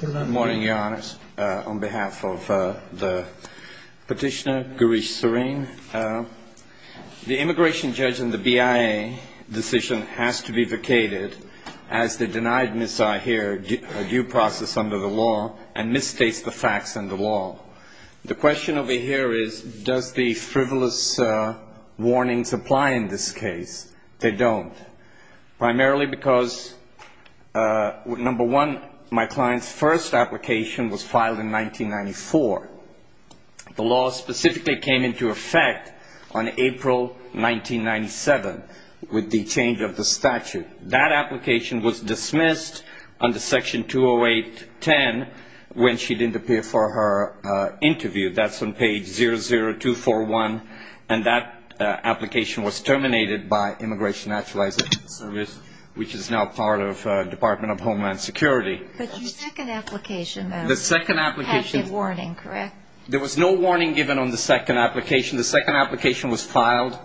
Good morning, Your Honors. On behalf of the petitioner, Girish Sareen, the immigration judge and the BIA decision has to be vacated as they denied Ms. Ahir a due process under the law and misstates the facts and the law. The question over here is, does the frivolous warnings apply in this case? They don't. Primarily because, number one, my client's first application was filed in 1994. The law specifically came into effect on April 1997 with the change of the statute. That application was dismissed under Section 208-10 when she didn't appear for her interview. That's on page 00241 and that application was terminated by Immigration Naturalization Service, which is now part of Department of Homeland Security. But your second application, though, had the warning, correct? There was no warning given on the second application. The second application was filed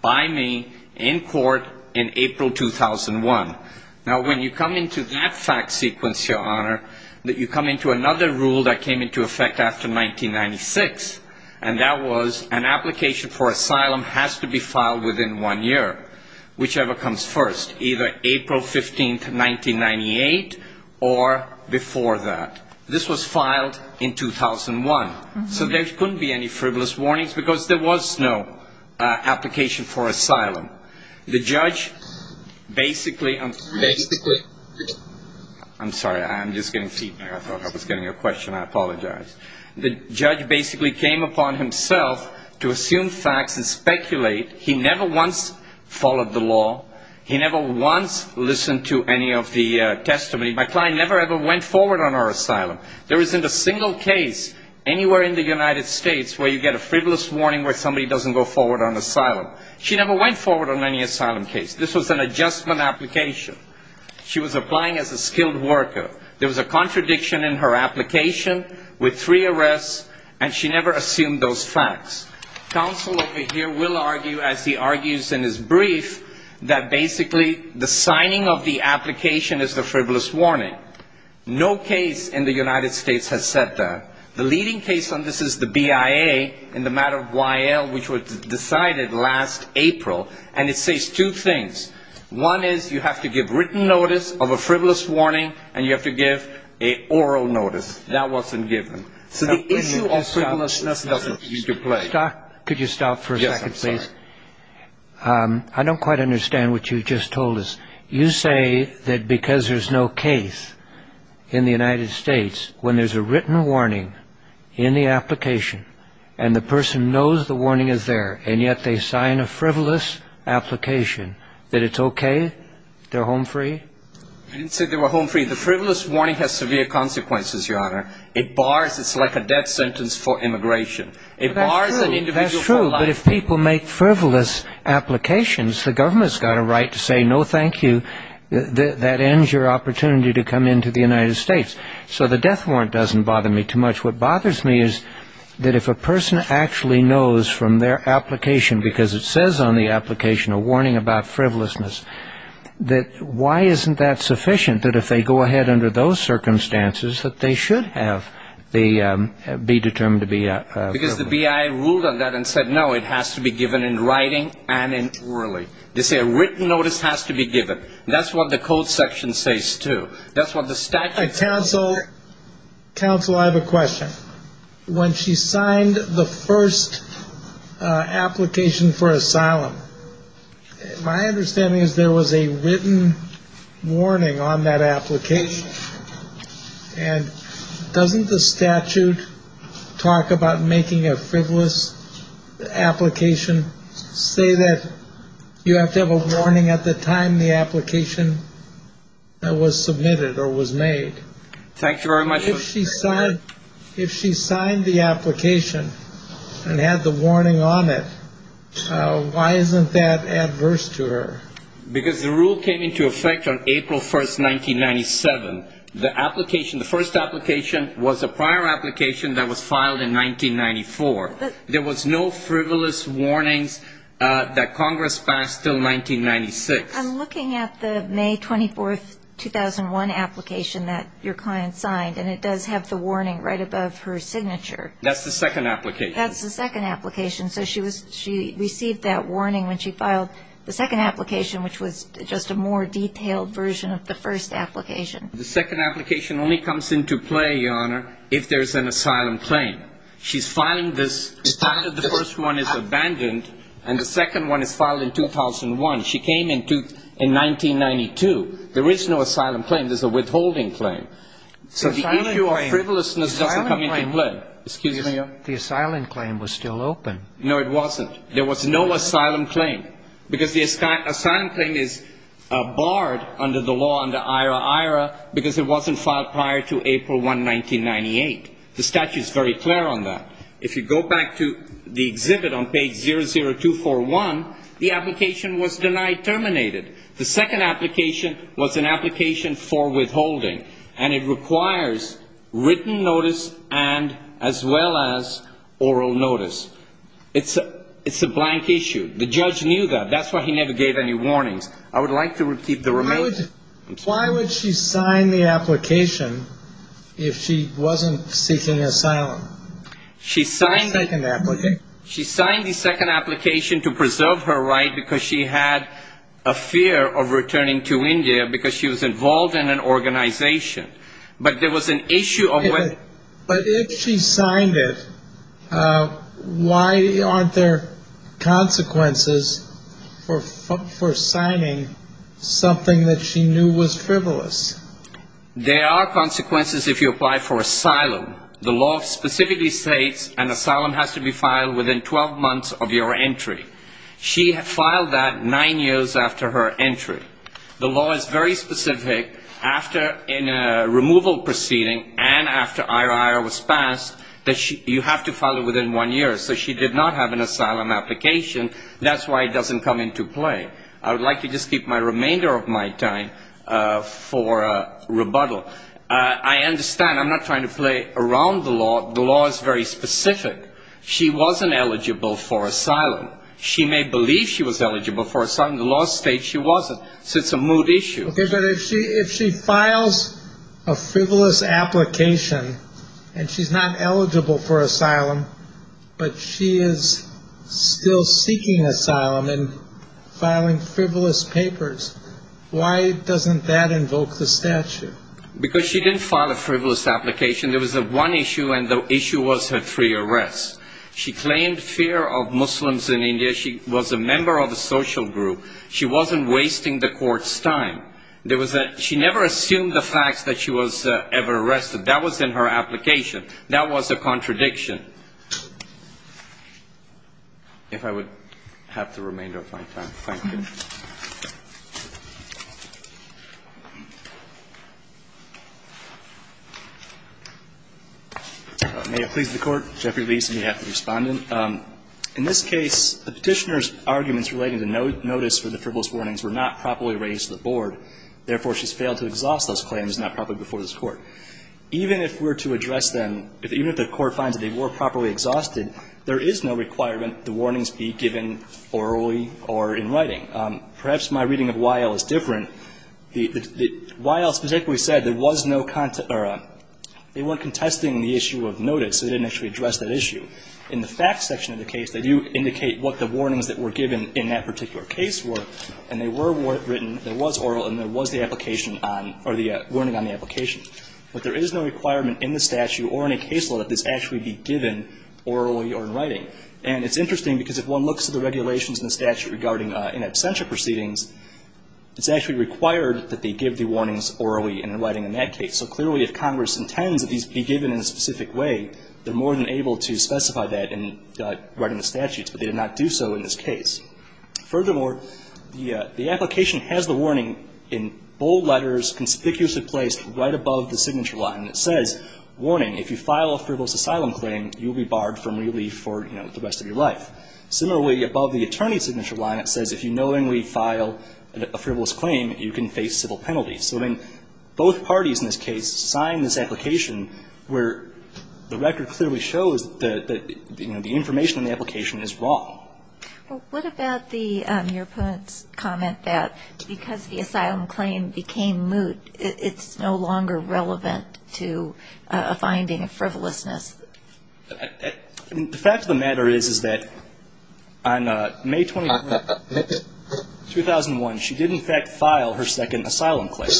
by me in court in April 2001. Now when you come into that fact sequence, Your Honor, that you come into another rule that came into effect after 1996, and that was an application for asylum has to be filed within one year, whichever comes first, either April 15, 1998 or before that. This was filed in 2001. So there couldn't be any frivolous warnings because there was no application for asylum. The judge basically, I'm sorry, I'm just getting feedback. I thought I was getting a question. I apologize. The judge basically came upon himself to assume facts and speculate. He never once followed the law. He never once listened to any of the testimony. My client never ever went forward on her asylum. There isn't a single case anywhere in the United States where you get a frivolous warning where somebody doesn't go forward on asylum. She never went forward on any asylum case. This was an adjustment application. She was applying as a skilled worker. There was a contradiction in her application with three arrests and she never assumed those facts. Counsel over here will argue, as he argues in his brief, that basically the signing of the application is the frivolous warning. No case in the United States has said that. The leading case on this is the BIA in the matter of Y.L. which was decided last April and it says two things. One is you have to give written notice of a frivolous warning and you have to give an oral notice. That wasn't given. I don't quite understand what you just told us. You say that because there's no case in the United States, when there's a written warning in the application and the person knows the warning is there and yet they sign a frivolous application, that it's okay? They're home free? I didn't say they were home free. The frivolous warning has severe consequences, Your Honor. It bars, it's like a death sentence for immigration. It bars an individual from life. The government's got a right to say no thank you. That ends your opportunity to come into the United States. So the death warrant doesn't bother me too much. What bothers me is that if a person actually knows from their application, because it says on the application a warning about frivolousness, that why isn't that sufficient that if they go ahead under those circumstances that they should be determined to be frivolous? Because the B.I. ruled on that and said no, it has to be given in writing and in orally. They say a written notice has to be given. That's what the code section says too. That's what the statute says. Counsel, counsel, I have a question. When she signed the first application for asylum, my understanding is there was a written warning on that application. And doesn't the statute talk about making a frivolous application say that you have to have a warning at the time the application was submitted or was made? Thank you very much. If she signed the application and had the warning on it, why isn't that adverse to her? Because the rule came into effect on April 1st, 1997. The first application was a prior application that was filed in 1994. There was no frivolous warnings that Congress passed until 1996. I'm looking at the May 24th, 2001 application that your client signed, and it does have the warning right above her signature. That's the second application. That's the second application. So she received that warning when she filed the second application, which was just a more detailed version of the first application. The second application only comes into play, Your Honor, if there's an asylum claim. She's filing this after the first one is abandoned, and the second one is filed in 2001. She came in 1992. There is no asylum claim. There's a withholding claim. So the issue of frivolousness doesn't come into play. The asylum claim was still open. No, it wasn't. There was no asylum claim because the asylum claim is barred under the law under IRA-IRA because it wasn't filed prior to April 1, 1998. The statute is very clear on that. If you go back to the exhibit on page 00241, the application was denied terminated. The second application was an application for withholding, and it requires written notice and as well as oral notice. It's a blank issue. The judge knew that. That's why he never gave any warnings. I would like to repeat the remainder. Why would she sign the application if she wasn't seeking asylum? She signed the second application to preserve her right because she had a fear of returning to India because she was involved in an organization. But there was an issue of whether... But if she signed it, why aren't there consequences for signing something that she knew was frivolous? There are consequences if you apply for asylum. The law specifically states an asylum has to be filed within 12 months of your entry. She filed that nine years after her entry. The law is very specific after a removal proceeding and after IRA was passed that you have to file it within one year. So she did not have an asylum application. That's why it doesn't come into play. I would like to just keep my remainder of my time for rebuttal. I understand. I'm not trying to play around the law. The law is very specific. She wasn't eligible for asylum. She may believe she was eligible for asylum. The law states she wasn't. So it's a mood issue. But if she files a frivolous application and she's not eligible for asylum, but she is still seeking asylum and filing frivolous papers, why doesn't that invoke the statute? Because she didn't file a frivolous application. There was one issue and the issue was her free arrest. She claimed fear of Muslims in India. She was a member of a social group. She wasn't wasting the court's time. She never assumed the fact that she was ever arrested. That was in her application. That was a contradiction. If I would have the remainder of my time. Thank you. May it please the Court. Jeffrey Lee is on behalf of the Respondent. In this case, the Petitioner's arguments relating to notice for the frivolous warnings were not properly raised to the Board. Therefore, she's failed to exhaust those claims not properly before this Court. Even if we're to address them, even if the Court finds that they were properly exhausted, there is no requirement the warnings be given orally or in writing. Perhaps my reading of Y.L. is different. Y.L. specifically said there was no content or they weren't contesting the issue of notice, so they didn't actually address that issue. In the facts section of the case, they do indicate what the warnings that were given in that particular case were, and they were written, there was oral and there was the application on or the warning on the application. But there is no requirement in the statute or in a case law that this actually be given orally or in writing. And it's interesting because if one looks at the regulations in the statute regarding in absentia proceedings, it's actually required that they give the warnings orally and in writing in that case. So clearly if Congress intends that these be given in a specific way, they're more than able to specify that in writing the statutes, but they did not do so in this case. Furthermore, the application has the warning in bold letters, conspicuously placed right above the signature line, and it says, warning, if you file a frivolous asylum claim, you'll be barred from relief for, you know, the rest of your life. Similarly, above the attorney's signature line, it says, if you knowingly file a frivolous claim, you can face civil penalties. So then both parties in this case signed this application where the record clearly shows that, you know, the information in the application is wrong. Well, what about the, your opponent's comment that because the asylum claim became moot, it's no longer relevant to a finding of frivolousness? I mean, the fact of the matter is, is that on May 21, 2001, she did in fact file her second asylum claim.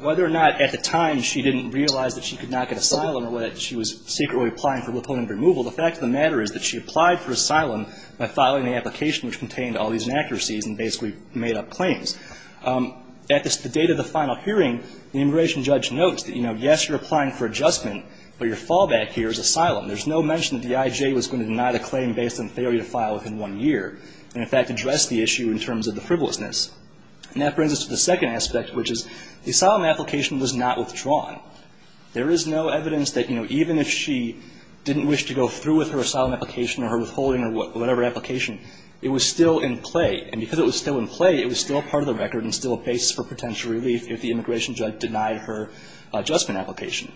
Whether or not at the time she didn't realize that she could not get asylum or whether she was secretly applying for liponent removal, the fact of the matter is that she applied for asylum by filing the application which contained all these inaccuracies and basically made up claims. At the date of the final hearing, the immigration judge notes that, you know, yes, you're applying for adjustment, but your fallback here is asylum. There's no mention that the IJ was going to deny the claim based on the failure to file within one year and in fact address the issue in terms of the frivolousness. And that brings us to the second aspect, which is the asylum application was not withdrawn. There is no evidence that, you know, even if she didn't wish to go through with her asylum application or her withholding or whatever application, it was still in play. And because it was still in play, it was still part of the record and still a base for potential relief if the immigration judge denied her adjustment application.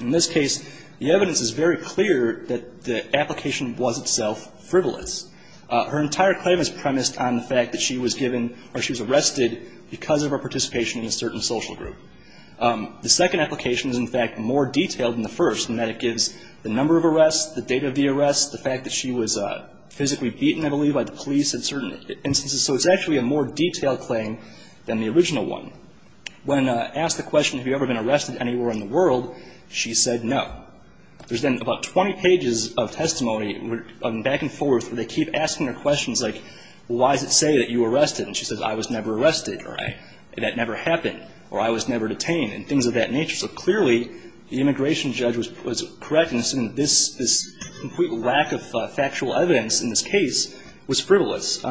In this case, the evidence is very clear that the application was itself frivolous. Her entire claim is premised on the fact that she was given or she was arrested because of her participation in a certain social group. The second application is in fact more detailed than the first in that it gives the number of arrests, the date of the arrest, the fact that she was physically beaten, I believe, by the police in certain instances. So it's actually a more detailed claim than the original one. When asked the question, have you ever been arrested anywhere in the world, she said no. There's then about 20 pages of testimony back and forth where they keep asking her questions like, why does it say that you were arrested? And she says, I was never arrested or that never happened. So the complete lack of factual evidence in this case was frivolous.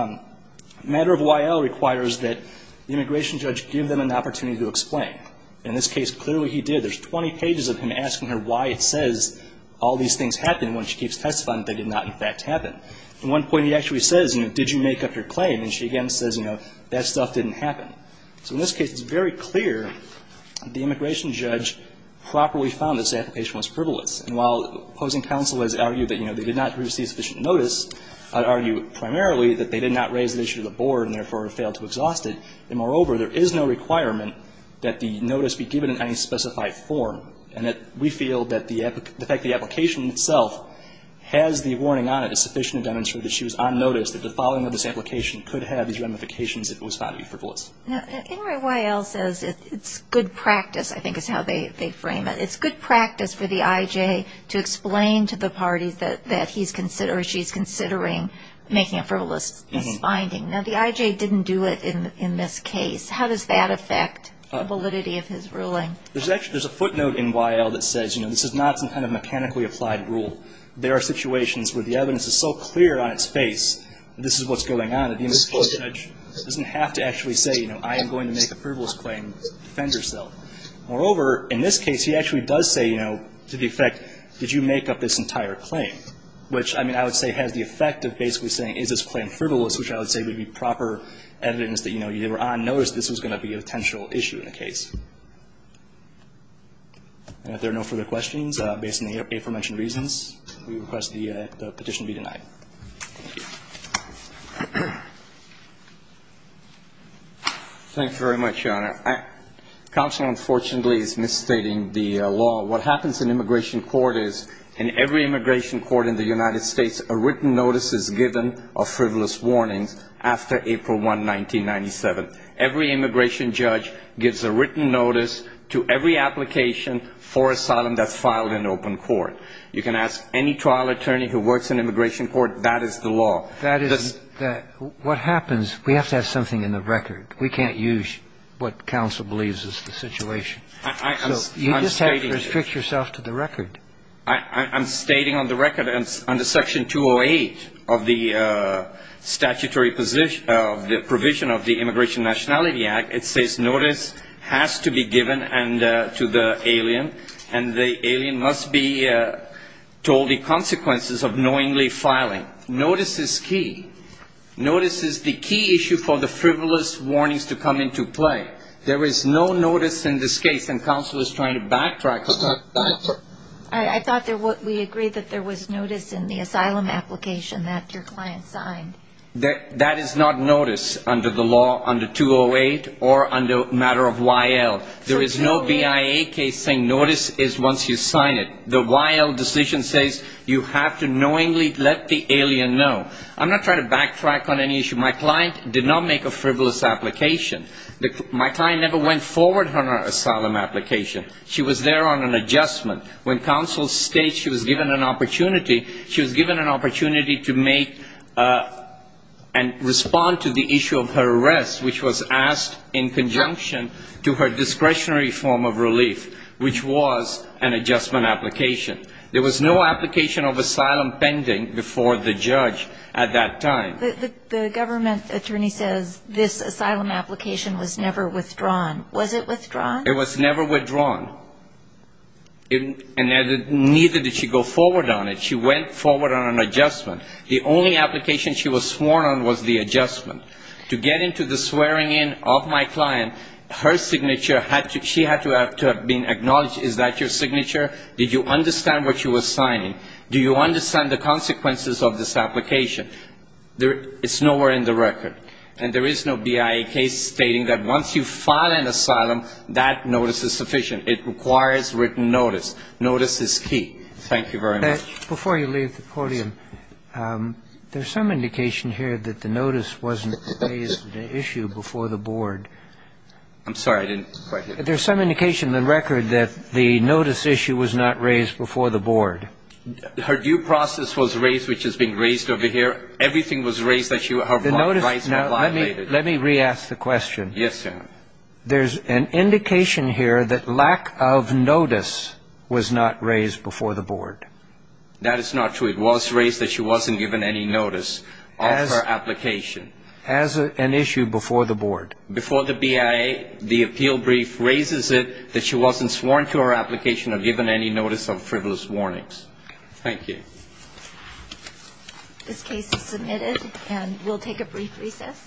Matter of Y.L. requires that the immigration judge give them an opportunity to explain. In this case, clearly he did. There's 20 pages of him asking her why it says all these things happened when she keeps testifying that they did not in fact happen. At one point, he actually says, you know, did you make up your claim? And she again says, you know, that stuff didn't happen. So in this case, it's very clear the immigration judge properly found this application was frivolous. And while opposing counsel has argued that, you know, they did not receive sufficient notice, I'd argue primarily that they did not raise the issue to the board and therefore failed to exhaust it. And moreover, there is no requirement that the notice be given in any specified form. And that we feel that the fact that the application itself has the warning on it is sufficient to demonstrate that she was on notice that the following of this application could have these ramifications if it was found to be frivolous. Now, anyway, Y.L. says it's good practice, I think is how they frame it. It's good practice for the I.J. to explain to the parties that he's considering or she's considering making a frivolous finding. Now, the I.J. didn't do it in this case. How does that affect the validity of his ruling? There's a footnote in Y.L. that says, you know, this is not some kind of mechanically applied rule. There are situations where the evidence is so going on that the individual judge doesn't have to actually say, you know, I am going to make a frivolous claim to defend herself. Moreover, in this case, he actually does say, you know, to the effect, did you make up this entire claim, which, I mean, I would say has the effect of basically saying, is this claim frivolous, which I would say would be proper evidence that, you know, you were on notice this was going to be a potential issue in the case. And if there are no further questions, based on the aforementioned reasons, we request the petition be denied. Thank you very much, Your Honor. Counsel, unfortunately, is misstating the law. What happens in immigration court is, in every immigration court in the United States, a written notice is given of frivolous warnings after April 1, 1997. Every immigration judge gives a written notice to every application for asylum that's filed in open court. You can ask any trial attorney who works in immigration court, that is the law. That is what happens. We have to have something in the record. We can't use what counsel believes is the situation. So you just have to restrict yourself to the record. I'm stating on the record, under Section 208 of the statutory provision of the Immigration Nationality Act, it says notice has to be filing. Notice is key. Notice is the key issue for the frivolous warnings to come into play. There is no notice in this case, and counsel is trying to backtrack. I thought we agreed that there was notice in the asylum application that your client signed. That is not notice under the law under 208 or under matter of YL. There is no BIA case saying notice is once you sign it. The YL decision says you have to knowingly let the alien know. I'm not trying to backtrack on any issue. My client did not make a frivolous application. My client never went forward on her asylum application. She was there on an adjustment. When counsel states she was given an opportunity, she was given an opportunity to make and respond to the issue of her arrest, which was asked in conjunction to her discretionary form of relief, which was an adjustment application. There was no application of asylum pending before the judge at that time. The government attorney says this asylum application was never withdrawn. Was it withdrawn? It was never withdrawn. And neither did she go forward on it. She went forward on an adjustment. The only application she was sworn on was the adjustment. To get into the swearing in of my client, her signature had to be acknowledged. Is that your signature? Did you understand what you were signing? Do you understand the consequences of this application? It's nowhere in the record. And there is no BIA case stating that once you file an asylum, that notice is sufficient. It requires written notice. Notice is key. Thank you very much. Before you leave the podium, there's some indication here that the notice wasn't raised at the issue before the board. I'm sorry. I didn't quite hear you. There's some indication in the record that the notice issue was not raised before the board. Her due process was raised, which is being raised over here. Everything was raised that her rights were violated. Let me re-ask the question. Yes, sir. There's an indication here that lack of notice was not raised before the board. That is not true. It was raised that she wasn't given any notice of her application. As an issue before the board. Before the BIA, the appeal brief raises it that she wasn't sworn to her application or given any notice of frivolous warnings. Thank you. This case is submitted and we'll take a brief recess.